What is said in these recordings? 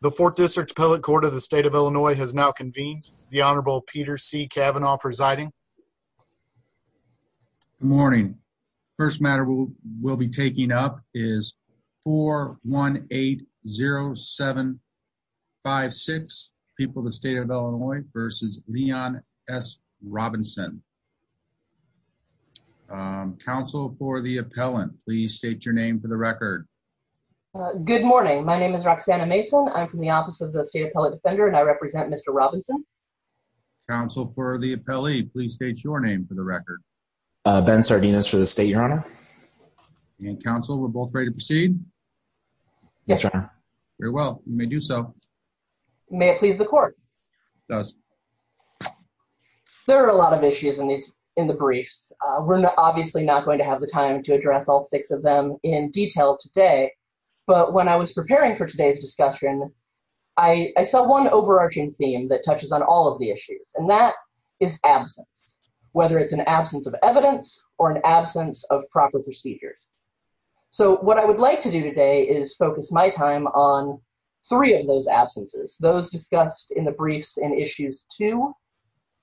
The fourth district appellate court of the state of Illinois has now convened. The Honorable Peter C. Kavanaugh presiding. Good morning. First matter we'll be taking up is 4180756, people of the state of Illinois, versus Leon S. Robinson. Counsel for the appellant, please state your name for the record. Uh, good morning. My name is Roxanna Mason. I'm from the office of the state appellate defender and I represent Mr. Robinson. Counsel for the appellee, please state your name for the record. Uh, Ben Sardinas for the state, Your Honor. And counsel, we're both ready to proceed. Yes, Your Honor. Very well, you may do so. May it please the court. There are a lot of issues in these, in the briefs. Uh, we're obviously not going to have the time to address all six of them in detail today. But when I was preparing for today's discussion, I, I saw one overarching theme that touches on all of the issues and that is absence, whether it's an absence of evidence or an absence of proper procedures. So what I would like to do today is focus my time on three of those absences, those discussed in the briefs in issues two,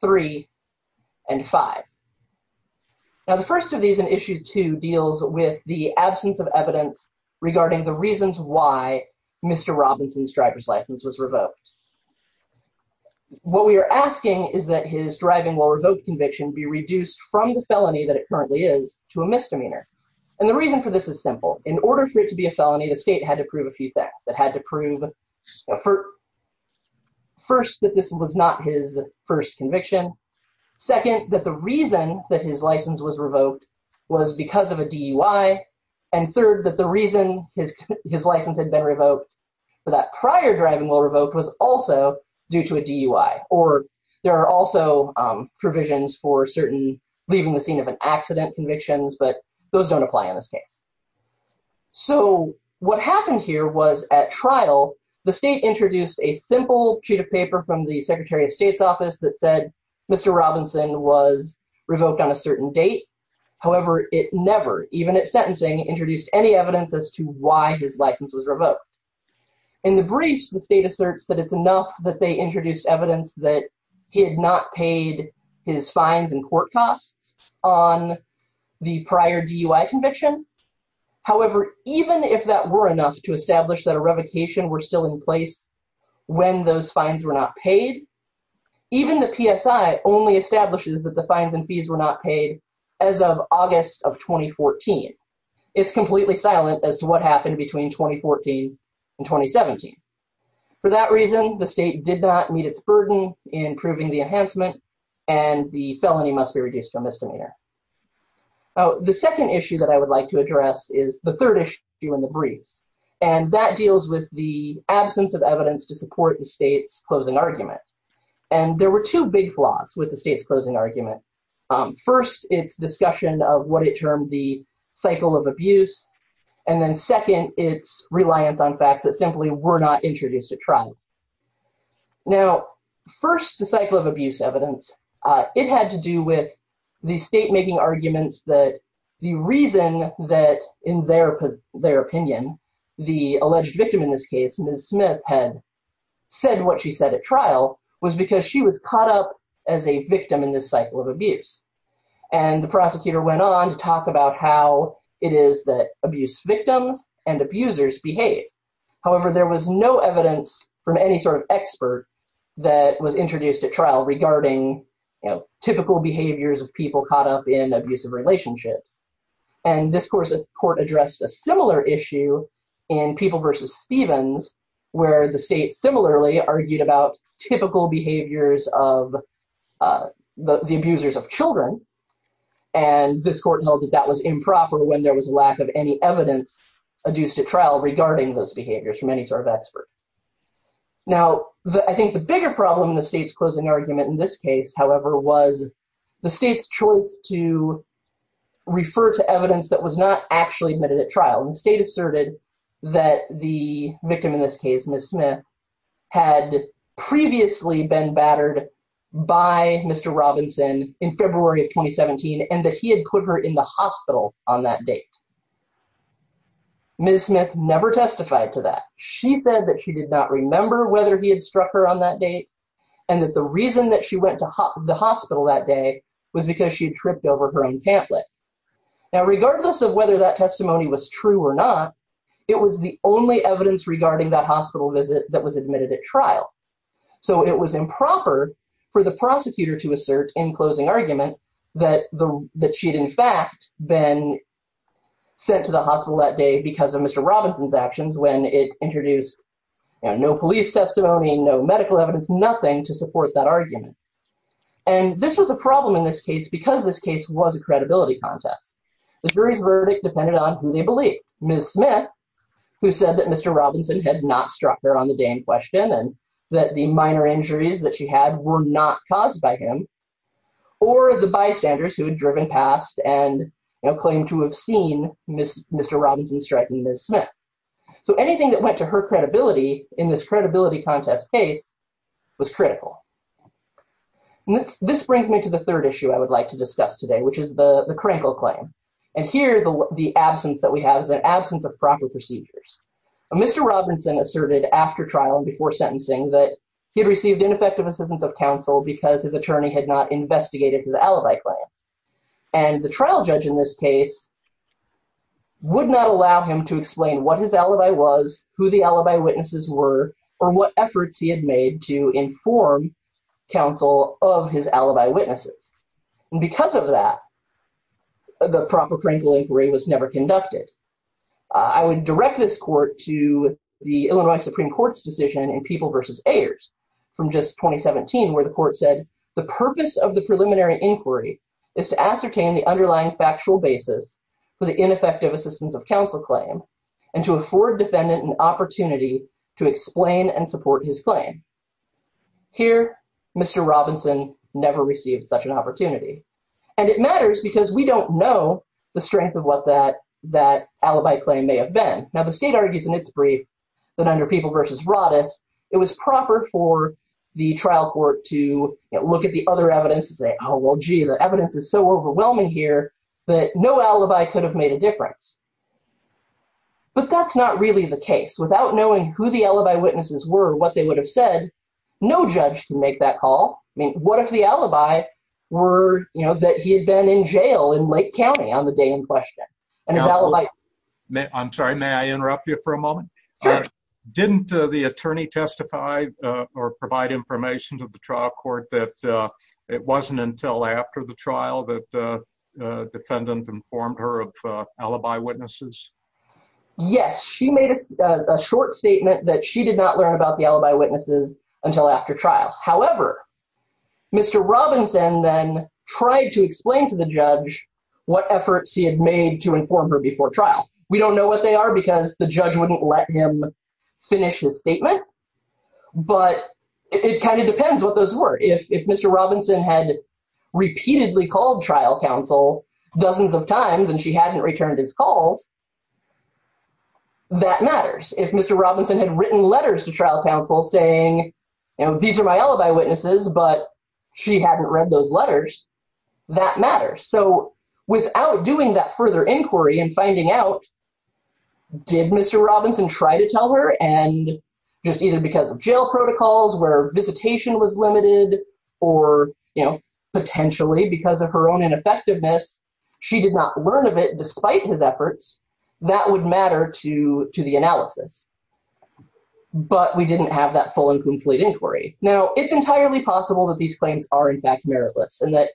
three, and five. Now, the first of these in issue two deals with the absence of evidence regarding the reasons why Mr. Robinson's driver's license was revoked. What we are asking is that his driving while revoked conviction be reduced from the felony that it currently is to a misdemeanor. And the reason for this is simple. In order for it to be a felony, the state had to prove a few things. It had to prove, first, that this was not his first conviction. Second, that the reason that his license was revoked was because of a DUI. And third, that the reason his license had been revoked for that prior driving while revoked was also due to a DUI. Or there are also provisions for certain leaving the scene of an accident convictions, but those don't apply in this case. So what happened here was at trial, the state introduced a simple sheet of paper from the Secretary of State's office that said Mr. Robinson was revoked on a certain date. However, it never, even at sentencing, introduced any evidence as to why his license was revoked. In the briefs, the state asserts that it's enough that they revoked the prior DUI conviction. However, even if that were enough to establish that a revocation were still in place when those fines were not paid, even the PSI only establishes that the fines and fees were not paid as of August of 2014. It's completely silent as to what happened between 2014 and 2017. For that reason, the state did not meet its burden in proving the enhancement and the felony must be reduced to a misdemeanor. The second issue that I would like to address is the third issue in the briefs, and that deals with the absence of evidence to support the state's closing argument. And there were two big flaws with the state's closing argument. First, its discussion of what it termed the cycle of abuse, and then second, its reliance on facts that simply were not introduced at trial. Now, first, the cycle of abuse evidence, it had to do with the state making arguments that the reason that, in their opinion, the alleged victim in this case, Ms. Smith, had said what she said at trial was because she was caught up as a victim in this cycle of abuse. And the prosecutor went on to talk about how it is that abuse victims and abusers behave. However, there was no evidence from any sort of expert that was introduced at trial regarding typical behaviors of people caught up in abusive relationships. And this court addressed a similar issue in People v. Stevens, where the state similarly argued about typical behaviors of the abusers of children. And this court held that that was improper when there was lack of any evidence adduced at trial regarding those behaviors from any sort of expert. Now, I think the bigger problem in the state's closing argument in this case, however, was the state's choice to refer to evidence that was not actually admitted at trial. And the state asserted that the victim in this case, Ms. Smith, had previously been battered by Mr. Robinson in February of 2017, and that he had put her in the hospital on that date. Ms. Smith never testified to that. She said that she did not remember whether he had struck her on that date, and that the reason that she went to the hospital that day was because she had tripped over her own pamphlet. Now, regardless of whether that testimony was true or not, it was the only evidence regarding that hospital visit that was admitted at trial. So it was improper for the closing argument that she'd in fact been sent to the hospital that day because of Mr. Robinson's actions when it introduced no police testimony, no medical evidence, nothing to support that argument. And this was a problem in this case because this case was a credibility contest. The jury's verdict depended on who they believe. Ms. Smith, who said that Mr. Robinson had not struck her on the day in question, and that the minor injuries that she had were not caused by him, or the bystanders who had driven past and, you know, claimed to have seen Mr. Robinson strike Ms. Smith. So anything that went to her credibility in this credibility contest case was critical. This brings me to the third issue I would like to discuss today, which is the Krinkle claim. And here the absence that we have is an absence of proper procedures. Mr. Robinson asserted after trial and before sentencing that he had received ineffective assistance of counsel because his alibi claim. And the trial judge in this case would not allow him to explain what his alibi was, who the alibi witnesses were, or what efforts he had made to inform counsel of his alibi witnesses. And because of that, the proper Krinkle inquiry was never conducted. I would direct this court to the Illinois Supreme Court's decision in People v. Ayers from just 2017, where the court said, the purpose of the preliminary inquiry is to ascertain the underlying factual basis for the ineffective assistance of counsel claim and to afford defendant an opportunity to explain and support his claim. Here, Mr. Robinson never received such an opportunity. And it matters because we don't know the strength of what that alibi claim may have been. Now, the state argues in its brief that under People v. Roddus, it was proper for the trial court to look at the other evidence and say, oh, well, gee, the evidence is so overwhelming here that no alibi could have made a difference. But that's not really the case. Without knowing who the alibi witnesses were, what they would have said, no judge can make that call. I mean, what if the alibi were, you know, that he had been in jail in Lake County on the same question? I'm sorry, may I interrupt you for a moment? Didn't the attorney testify or provide information to the trial court that it wasn't until after the trial that the defendant informed her of alibi witnesses? Yes, she made a short statement that she did not learn about the alibi witnesses until after trial. However, Mr. Robinson then tried to explain to the judge what efforts he had made to inform her before trial. We don't know what they are because the judge wouldn't let him finish his statement, but it kind of depends what those were. If Mr. Robinson had repeatedly called trial counsel dozens of times and she hadn't returned his calls, that matters. If Mr. Robinson had written letters to trial counsel saying, you know, these are my alibi witnesses, but she hadn't read those letters, that matters. So without doing that further inquiry and finding out, did Mr. Robinson try to tell her and just either because of jail protocols where visitation was limited or, you know, potentially because of her own ineffectiveness, she did not learn of it despite his efforts, that would matter to the analysis. But we didn't have that full and meritless. And that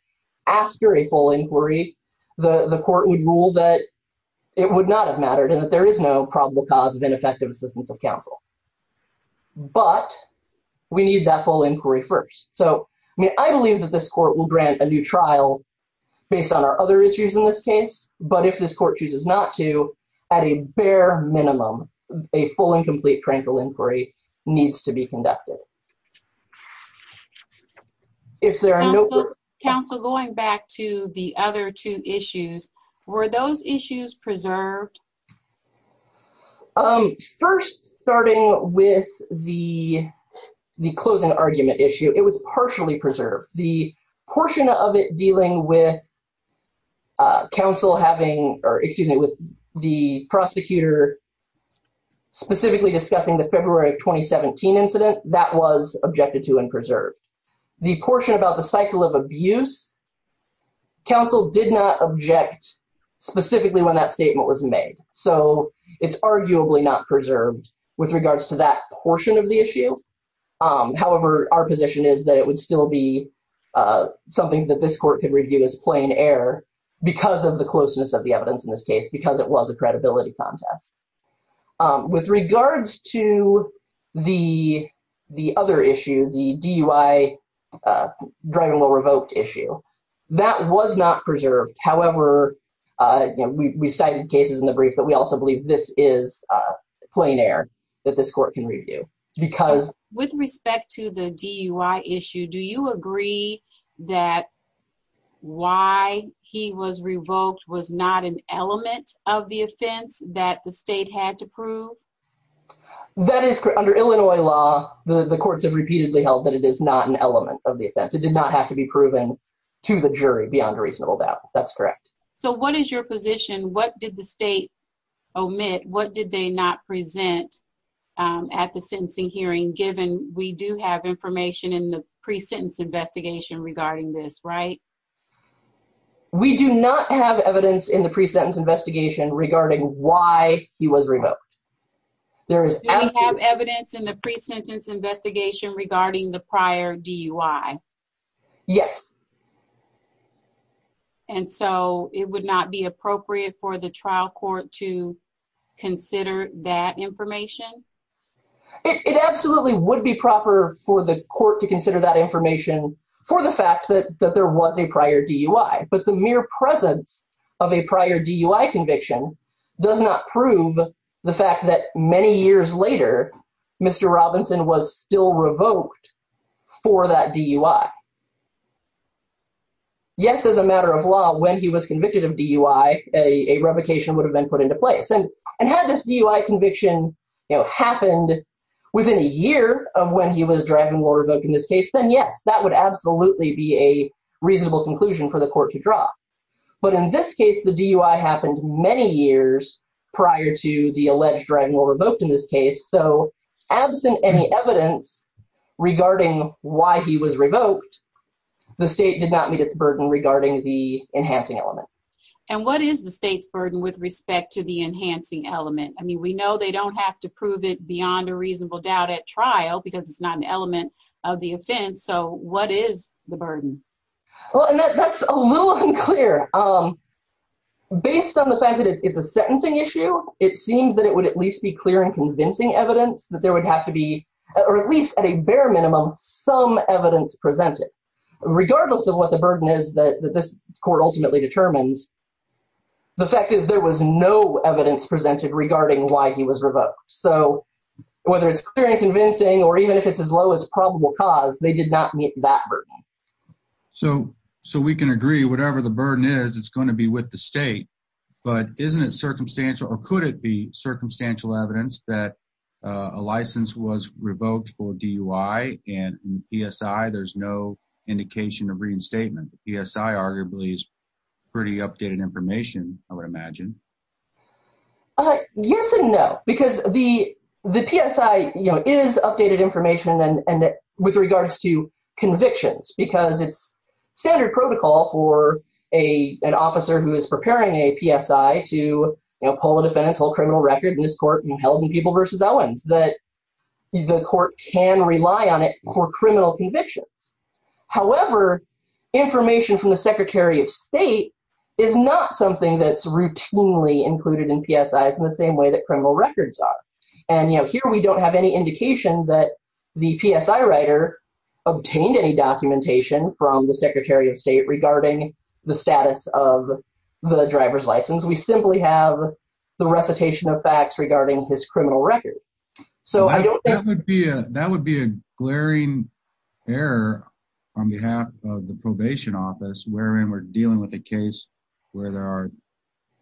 after a full inquiry, the court would rule that it would not have mattered and that there is no probable cause of ineffective assistance of counsel. But we need that full inquiry first. So, I mean, I believe that this court will grant a new trial based on our other issues in this case, but if this court chooses not to, at a bare minimum, a full and complete inquiry needs to be conducted. If there are no... Counsel, going back to the other two issues, were those issues preserved? First, starting with the closing argument issue, it was partially preserved. The portion of it dealing with the prosecutor specifically discussing the February of 2017 incident, that was objected to and preserved. The portion about the cycle of abuse, counsel did not object specifically when that statement was made. So it's arguably not preserved with regards to that portion of the issue. However, our position is that it would still be something that this court can review as plain air because of the closeness of the evidence in this case, because it was a credibility contest. With regards to the other issue, the DUI driving while revoked issue, that was not preserved. However, we cited cases in the brief, but we also believe this is plain air that this court can review because... That why he was revoked was not an element of the offense that the state had to prove? That is correct. Under Illinois law, the courts have repeatedly held that it is not an element of the offense. It did not have to be proven to the jury beyond a reasonable doubt. That's correct. So what is your position? What did the state omit? What did they not present at the sentencing hearing given we do have information in the pre-sentence investigation regarding this, right? We do not have evidence in the pre-sentence investigation regarding why he was revoked. Do we have evidence in the pre-sentence investigation regarding the prior DUI? Yes. And so it would not be appropriate for the trial court to consider that information? It absolutely would be proper for the court to consider that information for the fact that there was a prior DUI, but the mere presence of a prior DUI conviction does not prove the fact that many years later, Mr. Robinson was still revoked for that DUI. Yes, as a matter of law, when he was convicted of DUI, a revocation would have been put into place. And had this DUI conviction happened within a year of when he was Dragon Ball revoked in this case, then yes, that would absolutely be a reasonable conclusion for the court to draw. But in this case, the DUI happened many years prior to the alleged Dragon Ball revoked in this case. So absent any evidence regarding why he was revoked, the state did not meet its burden regarding the enhancing element. And what is the state's burden with respect to the enhancing element? I mean, we know they don't have to prove it beyond a reasonable doubt at trial because it's not an element of the offense. So what is the burden? Well, and that's a little unclear. Based on the fact that it's a sentencing issue, it seems that it would at least be clear and convincing evidence that there would have to be, or at least at a bare minimum, some evidence presented. Regardless of what the burden is that this court ultimately determines, the fact is there was no evidence presented regarding why he was revoked. So whether it's clear and convincing or even if it's as low as probable cause, they did not meet that burden. So we can agree, whatever the burden is, it's going to be with the state. But isn't it circumstantial or could it be circumstantial evidence that a license was revoked for DUI and PSI, there's no indication of reinstatement? PSI arguably is pretty updated information, I would imagine. Yes and no. Because the PSI is updated information with regards to convictions because it's standard protocol for an officer who is preparing a PSI to pull a defendant's whole criminal record in this court and held in People v. Owens that the court can rely on it for criminal convictions. However, information from the Secretary of State is not something that's routinely included in PSIs in the same way that criminal records are. And here we don't have any indication that the PSI writer obtained any documentation from the Secretary of State regarding the status of the driver's license. We simply have the recitation of facts regarding his criminal record. That would be a glaring error on behalf of the probation office wherein we're dealing with a case where there are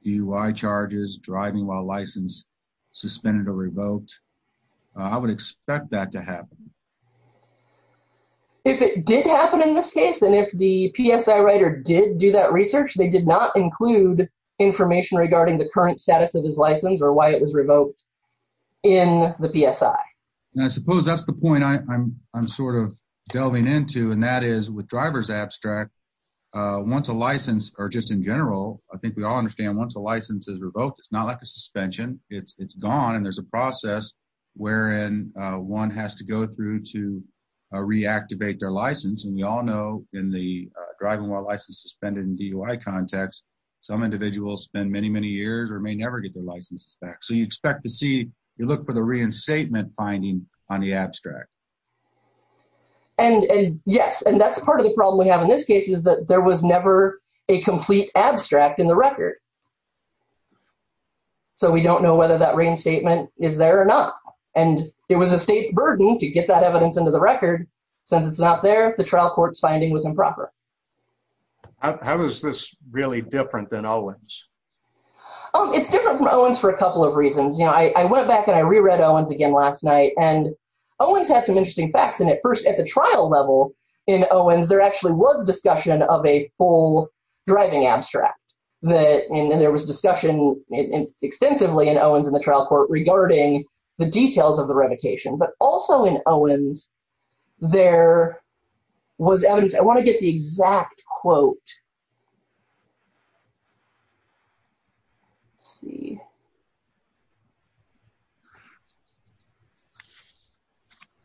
DUI charges, driving while license suspended or revoked. I would expect that to happen. If it did happen in this case and if the PSI writer did do that research, they did not include information regarding the current status of his license or why it was revoked in the PSI. And I suppose that's the point I'm sort of delving into and that is with driver's abstract, once a license or just in general, I think we all understand once a license is revoked it's not like a suspension. It's gone and there's a process wherein one has to go through to reactivate their license. And we all know in the driving while license suspended in DUI context, some individuals spend many, many years or may never get their licenses back. So you expect to see, you look for the reinstatement finding on the abstract. And yes, and that's part of the problem we have in this case is that there was never a complete abstract in the record. So we don't know whether that reinstatement is there or not. And it was a state's burden to get that evidence into the record. Since it's not there, the trial court's finding was improper. How is this really different than Owens? Oh, it's different from Owens for a couple of reasons. I went back and I re-read Owens again last night and Owens had some interesting facts. And at first at the trial level in Owens, there actually was discussion of a full driving abstract. And there was discussion extensively in Owens in the trial court regarding the details of the revocation. But also in Owens, there was evidence, I want to get the exact quote. Let's see.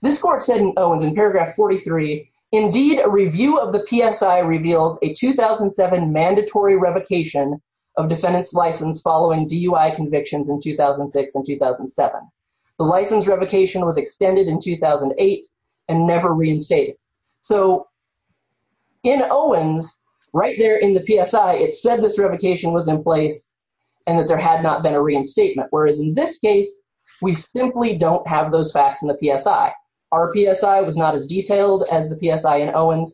This court said in Owens in paragraph 43, indeed a review of the PSI reveals a 2007 mandatory revocation of defendant's license following DUI convictions in 2006 and 2007. The license revocation was extended in 2008 and never reinstated. So in Owens, right there in the PSI, it said this revocation was in place and that there had not been a reinstatement. Whereas in this case, we simply don't have those facts in the PSI. Our PSI was not as detailed as the PSI in Owens.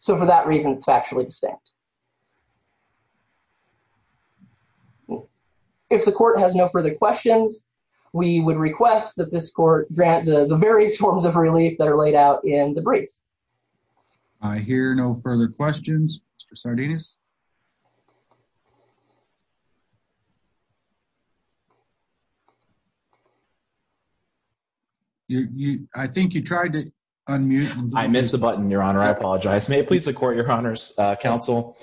So for that reason, it's factually distinct. If the court has no further questions, we would request that this court grant the various forms of relief that are laid out in the briefs. I hear no further questions. Mr. Sardinus. I think you tried to unmute. I missed the button, Your Honor. I apologize. May it please the court, counsel.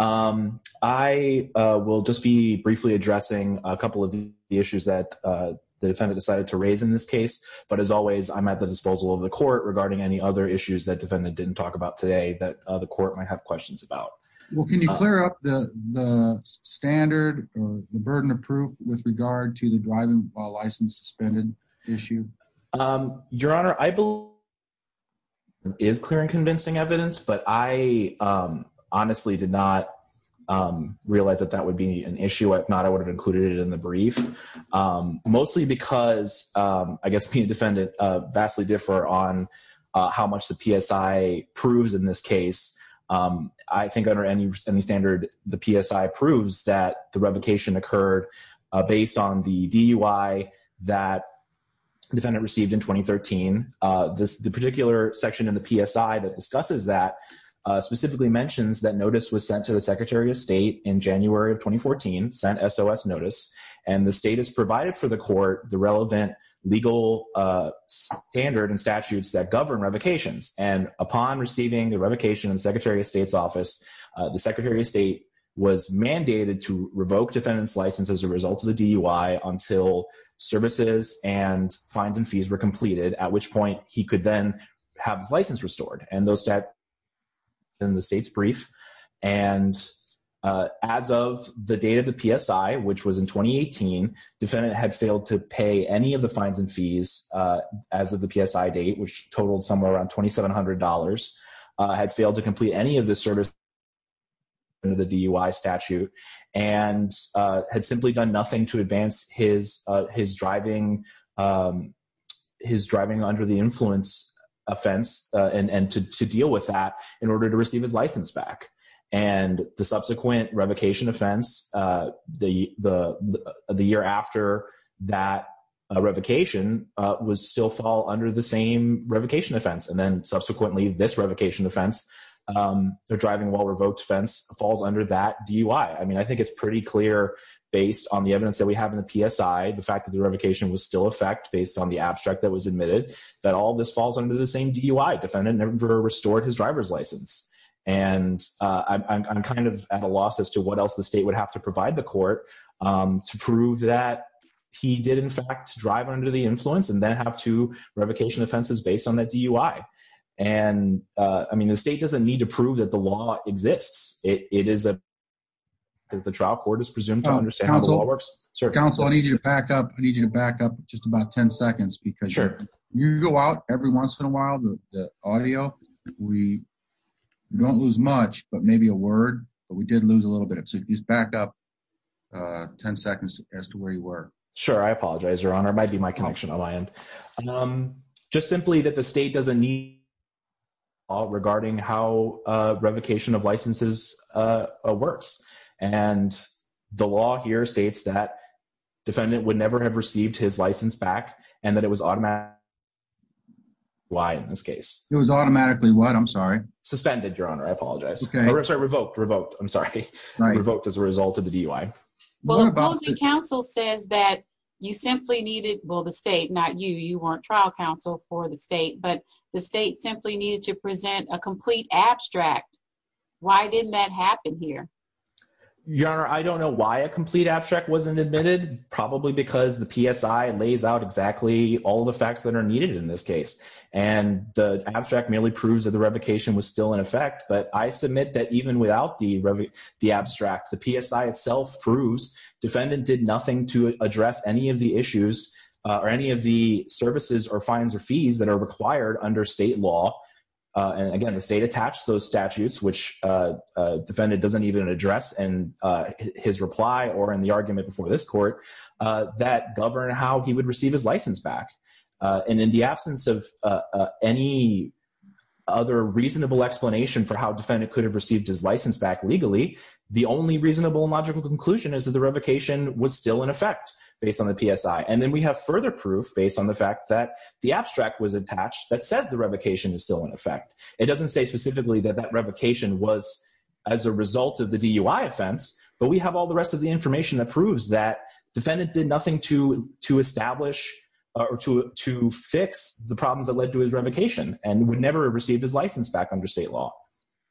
I will just be briefly addressing a couple of the issues that the defendant decided to raise in this case. But as always, I'm at the disposal of the court regarding any other issues that defendant didn't talk about today that the court might have questions about. Well, can you clear up the standard or the burden of proof with regard to the driving while license suspended issue? Your Honor, I believe it is clear and convincing evidence, but I honestly did not realize that that would be an issue. If not, I would have included it in the brief, mostly because I guess being a defendant vastly differ on how much the PSI proves in this case. I think under any standard, the PSI proves that the revocation occurred based on the DUI that defendant received in 2013. The particular section in the PSI that discusses that specifically mentions that notice was sent to the Secretary of State in January of 2014, sent SOS notice, and the state has provided for the court the relevant legal standard and statutes that govern revocations. And upon receiving the revocation in the Secretary of State's office, the Secretary of State was mandated to revoke defendant's license as a result of the DUI until services and fines and fees were completed, at which point he could then have his license restored. And those stats are in the state's brief. And as of the date of the PSI, which was in 2018, defendant had failed to pay any of the fines and fees as of the PSI date, which totaled somewhere around $2,700, had failed to complete any of the services under the DUI statute, and had simply done nothing to advance his driving under the influence offense and to deal with that in order to receive his license back. And the subsequent revocation offense, the year after that revocation, would still fall under the same revocation offense. And then subsequently, this revocation offense, the driving while revoked offense, falls under that DUI. I mean, I think it's pretty clear based on the evidence that we have in the PSI, the fact that the revocation was still effect based on the abstract that was admitted, that all this falls under the same DUI. Defendant never restored his driver's license. And I'm kind of at a loss as to what else the state would have to provide the court to prove that he did, in fact, drive under the influence and then have two and I mean, the state doesn't need to prove that the law exists. It is a the trial court is presumed to understand how the law works. Sir, counsel, I need you to back up. I need you to back up just about 10 seconds because you go out every once in a while, the audio, we don't lose much, but maybe a word, but we did lose a little bit. So just back up 10 seconds as to where you were. Sure. I apologize, Your Honor. It might be my connection on my end. Just simply that the state doesn't need all regarding how revocation of licenses works. And the law here states that defendant would never have received his license back and that it was automatic. Why, in this case, it was automatically what I'm sorry, suspended, Your Honor. I apologize. Sorry, revoked, revoked. I'm sorry. I revoked as a result of the DUI. Well, opposing counsel says that you simply needed, well, the state, not you, you weren't trial counsel for the state, but the state simply needed to present a complete abstract. Why didn't that happen here? Your Honor, I don't know why a complete abstract wasn't admitted, probably because the PSI lays out exactly all the facts that are needed in this case. And the abstract merely proves that the revocation was still in effect. But I submit that even without the abstract, the PSI itself proves defendant did nothing to address any of the services or fines or fees that are required under state law. And again, the state attached those statutes, which defendant doesn't even address in his reply or in the argument before this court that govern how he would receive his license back. And in the absence of any other reasonable explanation for how defendant could have received his license back legally, the only reasonable and logical conclusion is that the revocation was still in effect based on the PSI. And then we have further proof based on the fact that the abstract was attached that says the revocation is still in effect. It doesn't say specifically that that revocation was as a result of the DUI offense, but we have all the rest of the information that proves that defendant did nothing to establish or to fix the problems that led to his revocation. And would never have received his license back under state law.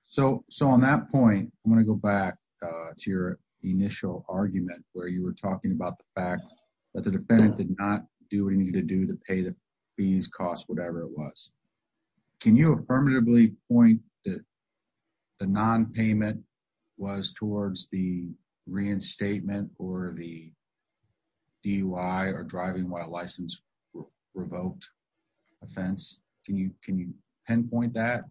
So on that point, I'm going to go back to your initial argument where you were talking about the fact that the defendant did not do what he needed to do to pay the fees, costs, whatever it was. Can you affirmatively point that the non-payment was towards the reinstatement or the pen point that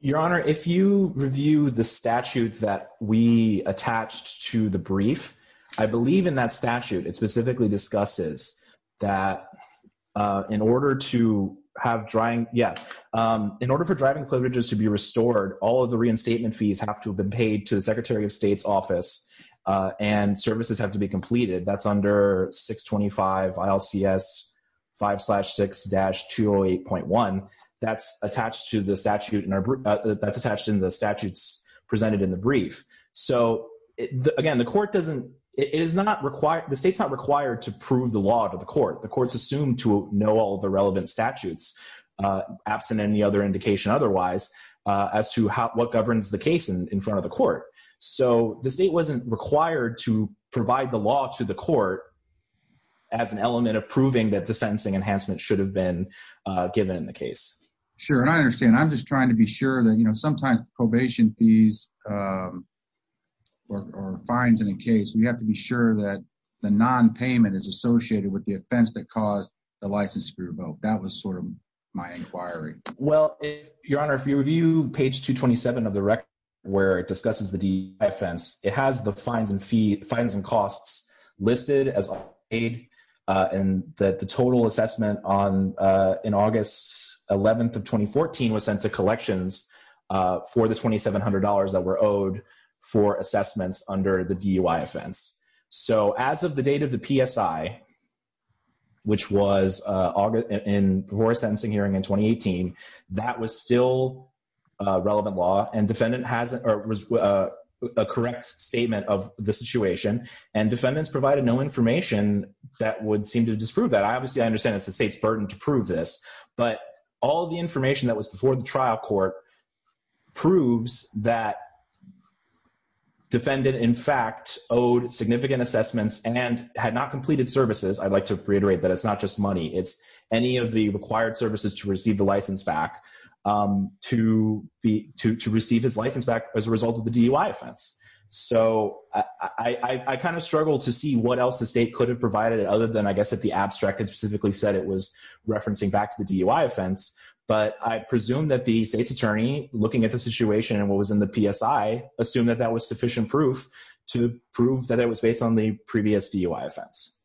your honor, if you review the statute that we attached to the brief, I believe in that statute, it specifically discusses that in order to have drying. Yeah. In order for driving privileges to be restored, all of the reinstatement fees have to have been paid to the secretary of state's office and services have to be completed. That's under 625 ILCS 5-6-208.1. That's attached to the statute and that's attached in the statutes presented in the brief. So again, the court doesn't, it is not required, the state's not required to prove the law to the court. The court's assumed to know all the relevant statutes absent any other indication otherwise as to how, what governs the case in front of the court. So the state wasn't required to provide the law to the court as an element of proving that the sentencing enhancement should have been given in the case. Sure. And I understand. I'm just trying to be sure that, you know, sometimes probation fees or fines in a case, we have to be sure that the non-payment is associated with the offense that caused the license to be revoked. That was sort of my inquiry. Well, your honor, if you review page 227 of the record where it discusses the DUI offense, it has the fines and costs listed as paid and that the total assessment on, in August 11th of 2014 was sent to collections for the $2,700 that were owed for assessments under the DUI offense. So as of the date of the PSI, which was in the sentencing hearing in 2018, that was still a relevant law and defendant has a correct statement of the situation and defendants provided no information that would seem to disprove that. I obviously, I understand it's the state's burden to prove this, but all the information that was before the trial court proves that defendant in fact owed significant assessments and had not completed services. I'd like to reiterate that it's not just money. It's any of the required services to receive the license back to receive his license back as a result of the DUI offense. So I kind of struggled to see what else the state could have provided it other than, I guess, if the abstract had said it was referencing back to the DUI offense, but I presume that the state's attorney, looking at the situation and what was in the PSI, assumed that that was sufficient proof to prove that it was based on the previous DUI offense.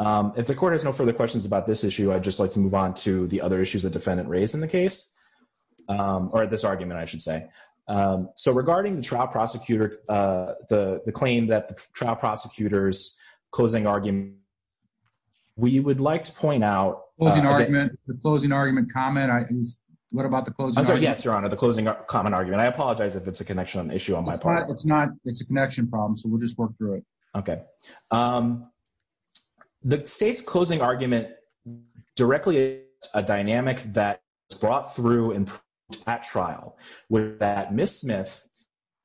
If the court has no further questions about this issue, I'd just like to move on to the other issues that defendant raised in the case, or this argument, I should say. So regarding the trial prosecutor, the claim that the trial prosecutor's closing argument, we would like to point out- Closing argument, the closing argument comment. What about the closing argument? I'm sorry. Yes, your honor, the closing comment argument. I apologize if it's a connection issue on my part. It's not. It's a connection problem. So we'll just work through it. Okay. The state's closing argument directly is a dynamic that is brought through at trial where that Ms. Smith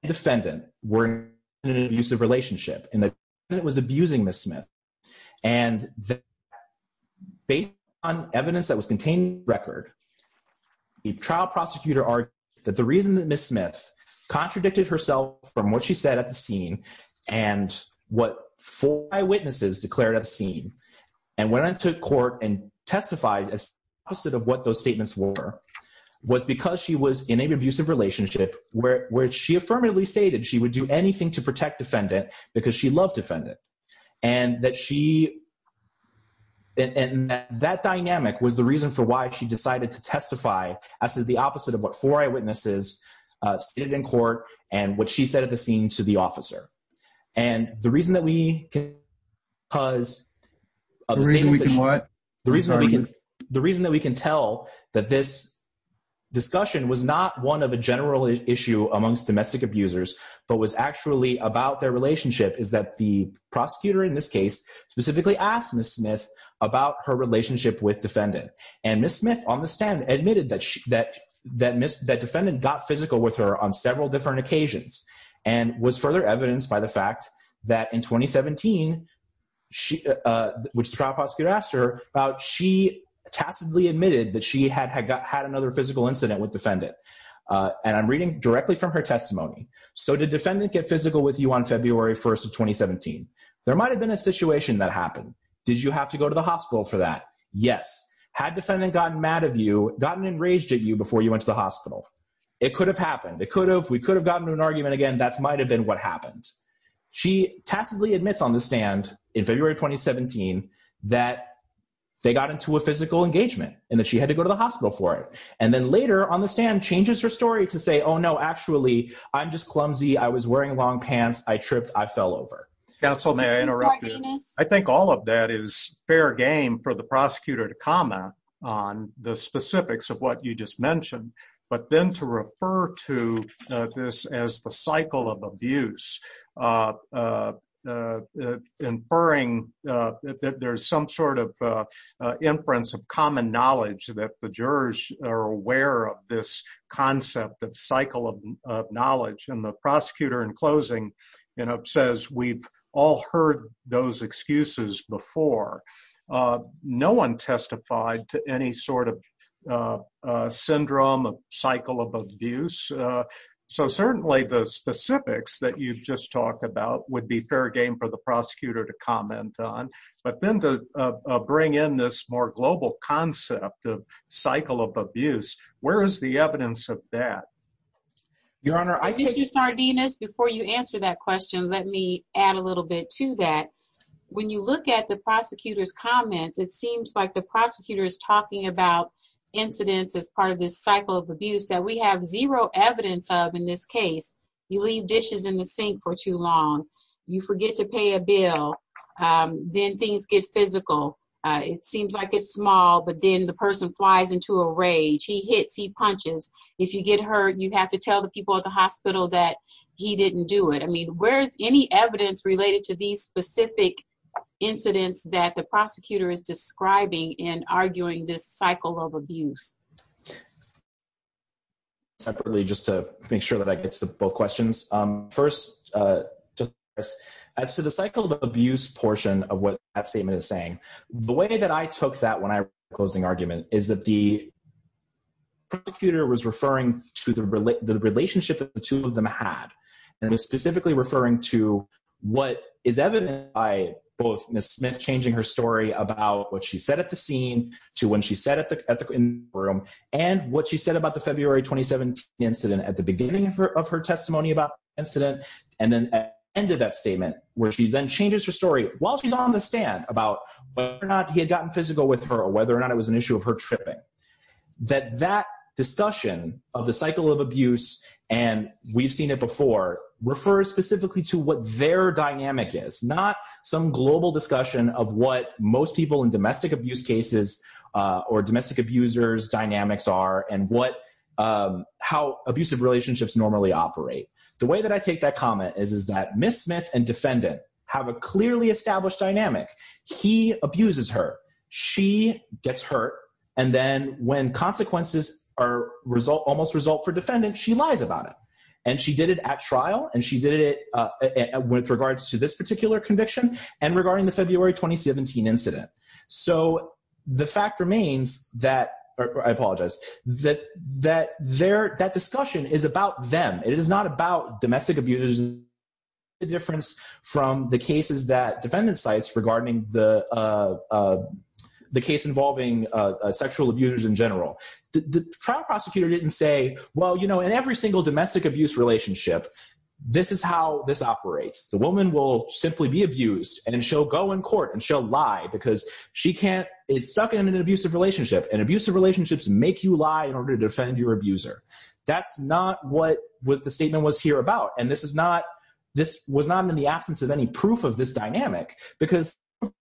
and the defendant were in an abusive relationship and the defendant was abusing Ms. Smith. And based on evidence that was contained in the record, the trial prosecutor argued that the reason that Ms. Smith contradicted herself from what she said at the scene and what four eyewitnesses declared at the scene and went into court and testified as the opposite of what statements were was because she was in an abusive relationship where she affirmatively stated she would do anything to protect defendant because she loved defendant. And that dynamic was the reason for why she decided to testify as the opposite of what four eyewitnesses stated in court and what she said at the scene to the officer. And the reason that we can tell that this discussion was not one of a general issue amongst domestic abusers but was actually about their relationship is that the prosecutor in this case specifically asked Ms. Smith about her relationship with defendant. And Ms. Smith on the stand admitted that defendant got physical with her on several different occasions and was further evidenced by the fact that in 2017, which the trial prosecutor asked her about, she tacitly admitted that she had another physical incident with defendant. And I'm reading directly from her testimony. So did defendant get physical with you on February 1st of 2017? There might have been a situation that happened. Did you have to go to the hospital for that? Yes. Had defendant gotten mad at you, gotten enraged at you before you went to the hospital? It could have happened. It could have, we could have gotten to an argument again. That's might've been what happened. She tacitly admits on the stand in February, 2017, that they got into a physical engagement and that she had to go to the hospital for it. And then later on the stand changes her story to say, Oh no, actually I'm just clumsy. I was wearing long pants. I tripped. I fell over. Counsel, may I interrupt you? I think all of that is fair game for the prosecutor to comment on the specifics of what you just mentioned, but then to refer to this as the cycle of abuse, inferring that there's some sort of inference of common knowledge that the jurors are aware of this concept of cycle of knowledge. And the prosecutor in closing says, we've all heard those excuses before. No one testified to any sort of syndrome of cycle of abuse. So certainly the specifics that you've just talked about would be fair game for the prosecutor to comment on. But then to bring in this more global concept of cycle of abuse, where is the evidence of that? Your Honor, I just- Mr. Sardenas, before you answer that question, let me add a little bit to that. When you look at the prosecutor's comments, it seems like the prosecutor is talking about incidents as part of this cycle of abuse that we have zero evidence of in this case. You leave dishes in the sink for too long. You forget to pay a bill. Then things get physical. It seems like it's small, but then the person flies into a rage. He hits, he punches. If you get hurt, you have to tell the people at the hospital that he didn't do it. I mean, where's any evidence related to these specific incidents that the prosecutor is describing in arguing this cycle of abuse? Separately, just to make sure that I get to both questions. First, as to the cycle of abuse portion of what that statement is saying, the way that I took that closing argument is that the prosecutor was referring to the relationship that the two of them had. It was specifically referring to what is evident by both Ms. Smith changing her story about what she said at the scene to when she sat at the courtroom, and what she said about the February 2017 incident at the beginning of her testimony about the incident, and then at the end of that statement, where she then changes her story while she's on the stand about whether or not it was an issue of her tripping. That discussion of the cycle of abuse, and we've seen it before, refers specifically to what their dynamic is, not some global discussion of what most people in domestic abuse cases or domestic abusers dynamics are, and how abusive relationships normally operate. The way that I take that comment is that Ms. Smith and defendant have a clearly established dynamic. He abuses her, she gets hurt, and then when consequences almost result for defendant, she lies about it. And she did it at trial, and she did it with regards to this particular conviction, and regarding the February 2017 incident. So the fact remains that, I apologize, that that discussion is about them. It is not about domestic abusers, the difference from the cases that defendant cites regarding the case involving sexual abusers in general. The trial prosecutor didn't say, well, you know, in every single domestic abuse relationship, this is how this operates. The woman will simply be abused, and she'll go in court, and she'll lie, because she can't, is stuck in an abusive relationship, and abusive relationships make you lie in order to defend your abuser. That's not what the statement was here about, and this was not in the absence of any proof of this dynamic, because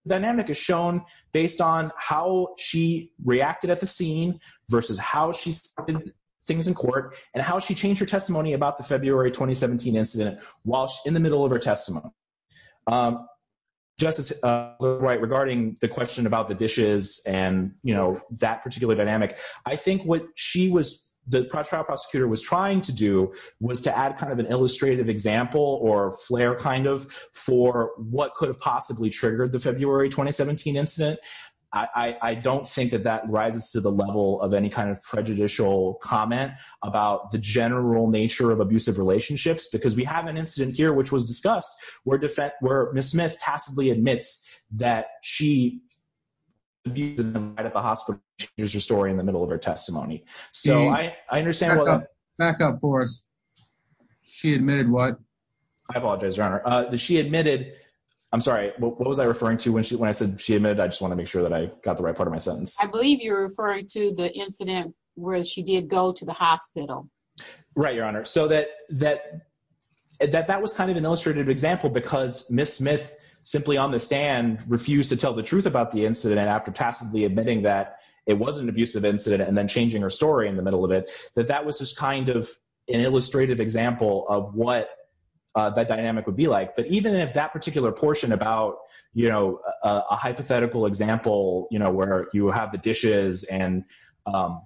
dynamic is shown based on how she reacted at the scene, versus how she said things in court, and how she changed her testimony about the February 2017 incident, while she's in the middle of her testimony. Justice Wright, regarding the question about the dishes, and that particular dynamic, I think what she was, the trial prosecutor was trying to do, was to add kind of an illustrative example, or flair kind of, for what could have possibly triggered the February 2017 incident. I don't think that that rises to the level of any kind of prejudicial comment about the general nature of abusive relationships, because we have an incident here, which was discussed, where Miss Smith tacitly admits that she abused in the night at the hospital, here's her story in the middle of her testimony. So I understand, back up for us, she admitted what? I apologize, your honor, that she admitted, I'm sorry, what was I referring to when she, when I said she admitted, I just want to make sure that I got the right part of my sentence. I believe you're referring to the incident, where she did go to the hospital. Right, your honor, so that, that, that was kind of an illustrative example, because Miss Smith, simply on the stand, refused to tell the truth about the incident, after tacitly admitting that wasn't an abusive incident, and then changing her story in the middle of it, that that was just kind of an illustrative example of what that dynamic would be like. But even if that particular portion about, you know, a hypothetical example, you know, where you have the dishes, and, and,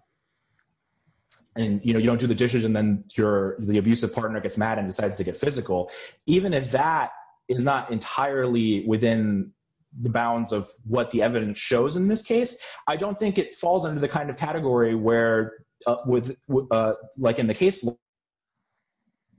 you know, you don't do the dishes, and then your, the abusive partner gets mad and decides to get physical, even if that is not entirely within the bounds of what the evidence shows in this case, I don't think it falls under the kind of category where, with, like in the case,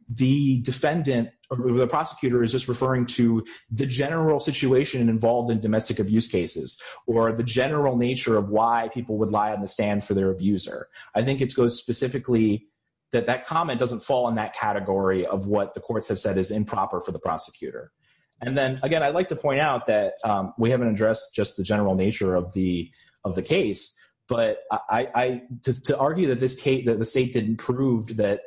the defendant or the prosecutor is just referring to the general situation involved in domestic abuse cases, or the general nature of why people would lie on the stand for their abuser. I think it goes specifically that that comment doesn't fall in that category of what the courts have said is improper for the prosecutor. And then, again, I'd like to point out that we haven't addressed just the general nature of the, of the case, but I, to argue that this case, that the state didn't prove that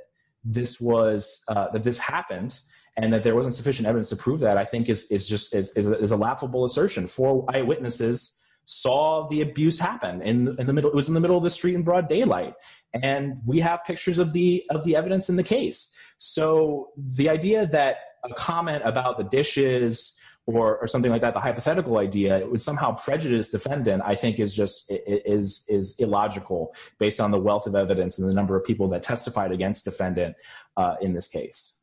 this was, that this happened, and that there wasn't sufficient evidence to prove that, I think is, is just, is a laughable assertion. Four eyewitnesses saw the abuse happen in the middle, it was in the middle of the street in broad daylight. And we have pictures of the, of the dishes or something like that, the hypothetical idea, it would somehow prejudice defendant, I think is just, is, is illogical based on the wealth of evidence and the number of people that testified against defendant in this case.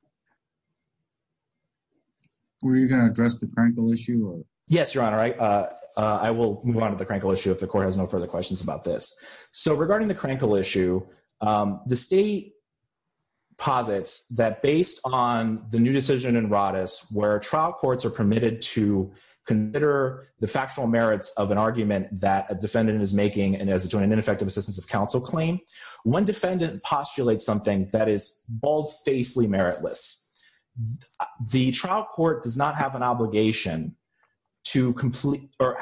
Were you going to address the Krankel issue? Yes, your honor. I, I will move on to the Krankel issue if the court has no further questions about this. So regarding the Krankel issue, the state posits that based on the new trial courts are permitted to consider the factual merits of an argument that a defendant is making and as a joint and ineffective assistance of counsel claim, one defendant postulates something that is bald facely meritless. The trial court does not have an obligation to complete, or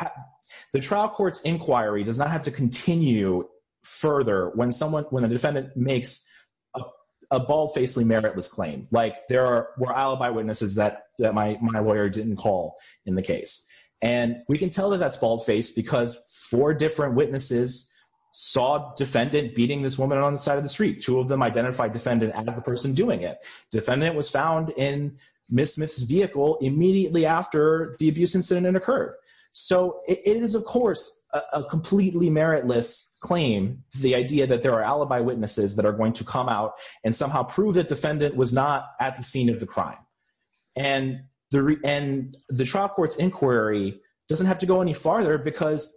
the trial court's inquiry does not have to continue further when someone, when a defendant makes a bald facely meritless claim. Like there are, were alibi witnesses that, that my, my lawyer didn't call in the case. And we can tell that that's bald faced because four different witnesses saw defendant beating this woman on the side of the street. Two of them identified defendant as the person doing it. Defendant was found in Ms. Smith's vehicle immediately after the abuse incident occurred. So it is of course a completely meritless claim, the idea that there are alibi witnesses that are going to come out and somehow prove that defendant was not at the scene of the crime. And the, and the trial court's inquiry doesn't have to go any farther because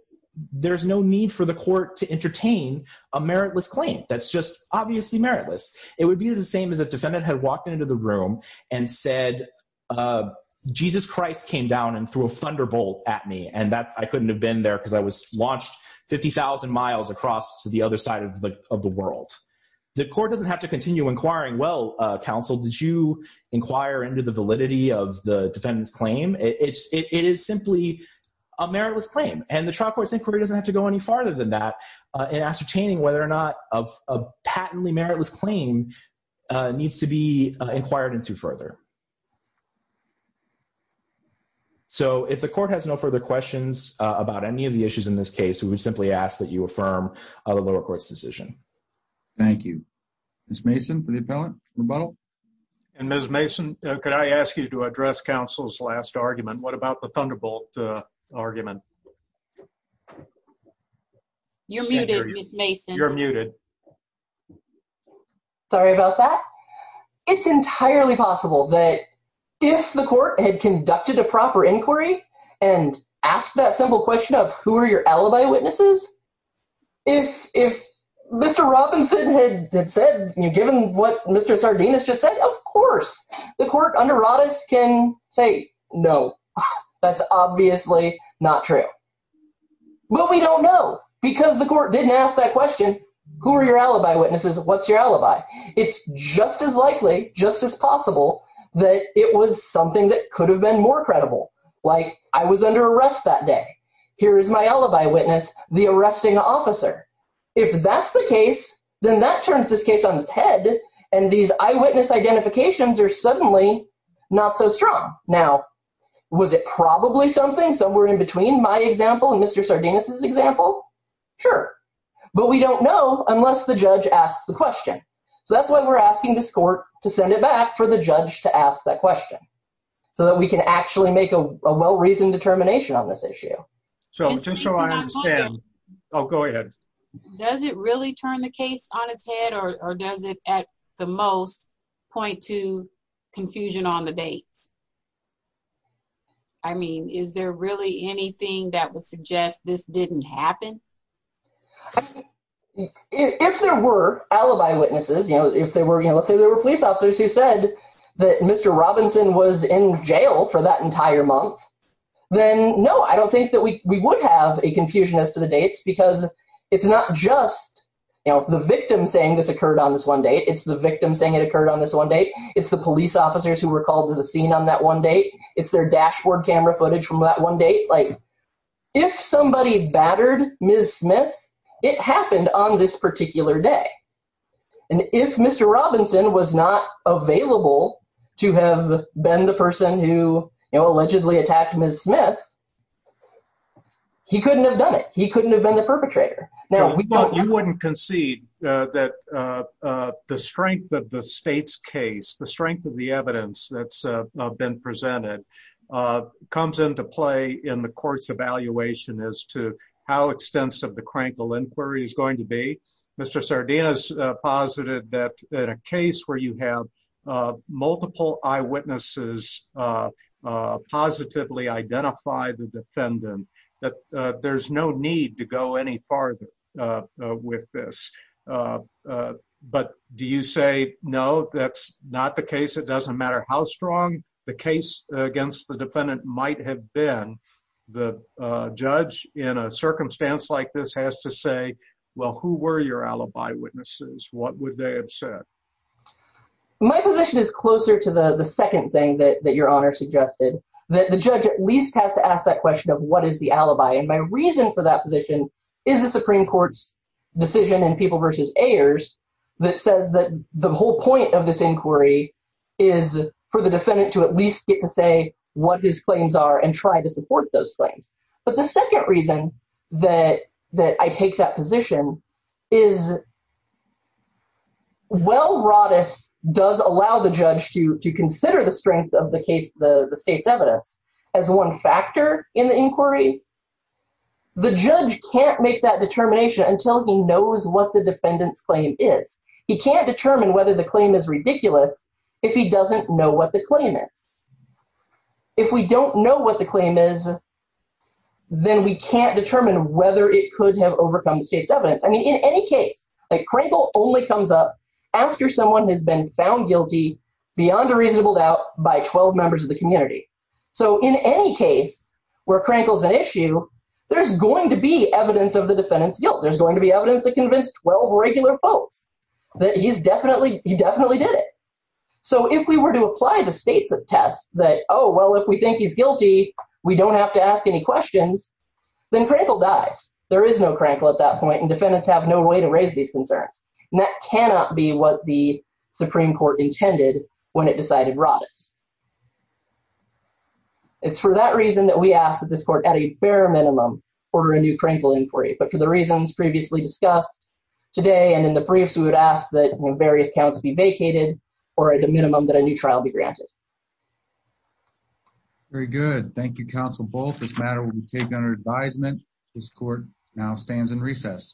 there's no need for the court to entertain a meritless claim. That's just obviously meritless. It would be the same as if defendant had walked into the room and said, Jesus Christ came down and threw a thunderbolt at me. And that's, I couldn't have been there because I was launched 50,000 miles across to the other side of the, of the world. The court doesn't have to continue inquiring, well, counsel, did you inquire into the validity of the defendant's claim? It's, it is simply a meritless claim. And the trial court's inquiry doesn't have to go any farther than that in ascertaining whether or not a patently meritless claim needs to be inquired into further. So if the court has no further questions about any of the issues in this case, we would simply ask that you affirm the lower court's decision. Thank you. Ms. Mason for the appellate rebuttal. And Ms. Mason, could I ask you to address counsel's last argument? What about the thunderbolt argument? You're muted Ms. Mason. You're muted. Sorry about that. It's entirely possible that if the court had conducted a proper inquiry and asked that simple question of who are your alibi witnesses, if, if Mr. Robinson had said, given what Mr. Sardinus just said, of course the court under Rodas can say, no, that's obviously not true. But we don't know because the court didn't ask that question. Who are your alibi witnesses? What's your alibi? It's just as likely, just as possible that it was something that could I was under arrest that day. Here is my alibi witness, the arresting officer. If that's the case, then that turns this case on its head. And these eyewitness identifications are suddenly not so strong. Now, was it probably something somewhere in between my example and Mr. Sardinus's example? Sure. But we don't know unless the judge asks the question. So that's why we're asking this court to send it back for the judge to ask that question so that we can actually make a well reasoned determination on this issue. So just so I understand. Oh, go ahead. Does it really turn the case on its head or does it at the most point to confusion on the dates? I mean, is there really anything that would suggest this didn't happen? If there were alibi witnesses, you know, if they were, you know, let's say there were police who said that Mr. Robinson was in jail for that entire month, then no, I don't think that we would have a confusion as to the dates, because it's not just, you know, the victim saying this occurred on this one date. It's the victim saying it occurred on this one date. It's the police officers who were called to the scene on that one date. It's their dashboard camera footage from that one date. Like if somebody battered Ms. Smith, it happened on this particular day. And if Mr. Robinson was not available to have been the person who allegedly attacked Ms. Smith, he couldn't have done it. He couldn't have been the perpetrator. Now, you wouldn't concede that the strength of the state's case, the strength of the evidence that's been presented comes into play in the court's evaluation as to how extensive the positive that in a case where you have multiple eyewitnesses positively identify the defendant, that there's no need to go any farther with this. But do you say no, that's not the case? It doesn't matter how strong the case against the defendant might have been. The judge in a would they upset? My position is closer to the second thing that Your Honor suggested, that the judge at least has to ask that question of what is the alibi. And my reason for that position is the Supreme Court's decision in People v. Ayers that says that the whole point of this inquiry is for the defendant to at least get to say what his claims are and try to support those claims. But the Well, Rodis does allow the judge to consider the strength of the case, the state's evidence as one factor in the inquiry. The judge can't make that determination until he knows what the defendant's claim is. He can't determine whether the claim is ridiculous if he doesn't know what the claim is. If we don't know what the claim is, then we can't determine whether it could have overcome the state's evidence. I mean, in any case, like Krankel only comes up after someone has been found guilty beyond a reasonable doubt by 12 members of the community. So in any case, where Krankel's an issue, there's going to be evidence of the defendant's guilt. There's going to be evidence to convince 12 regular folks that he definitely did it. So if we were to apply the state's test that, oh, well, if we think he's guilty, we don't have to ask any questions, then Krankel dies. There is no Krankel at that point, and defendants have no way to raise these concerns. And that cannot be what the Supreme Court intended when it decided Rodis. It's for that reason that we ask that this court at a bare minimum order a new Krankel inquiry, but for the reasons previously discussed today and in the briefs, we would ask that various counts be vacated or at a minimum that a new trial be granted. All right. Very good. Thank you, counsel. Both this matter will be taken under advisement. This court now stands in recess.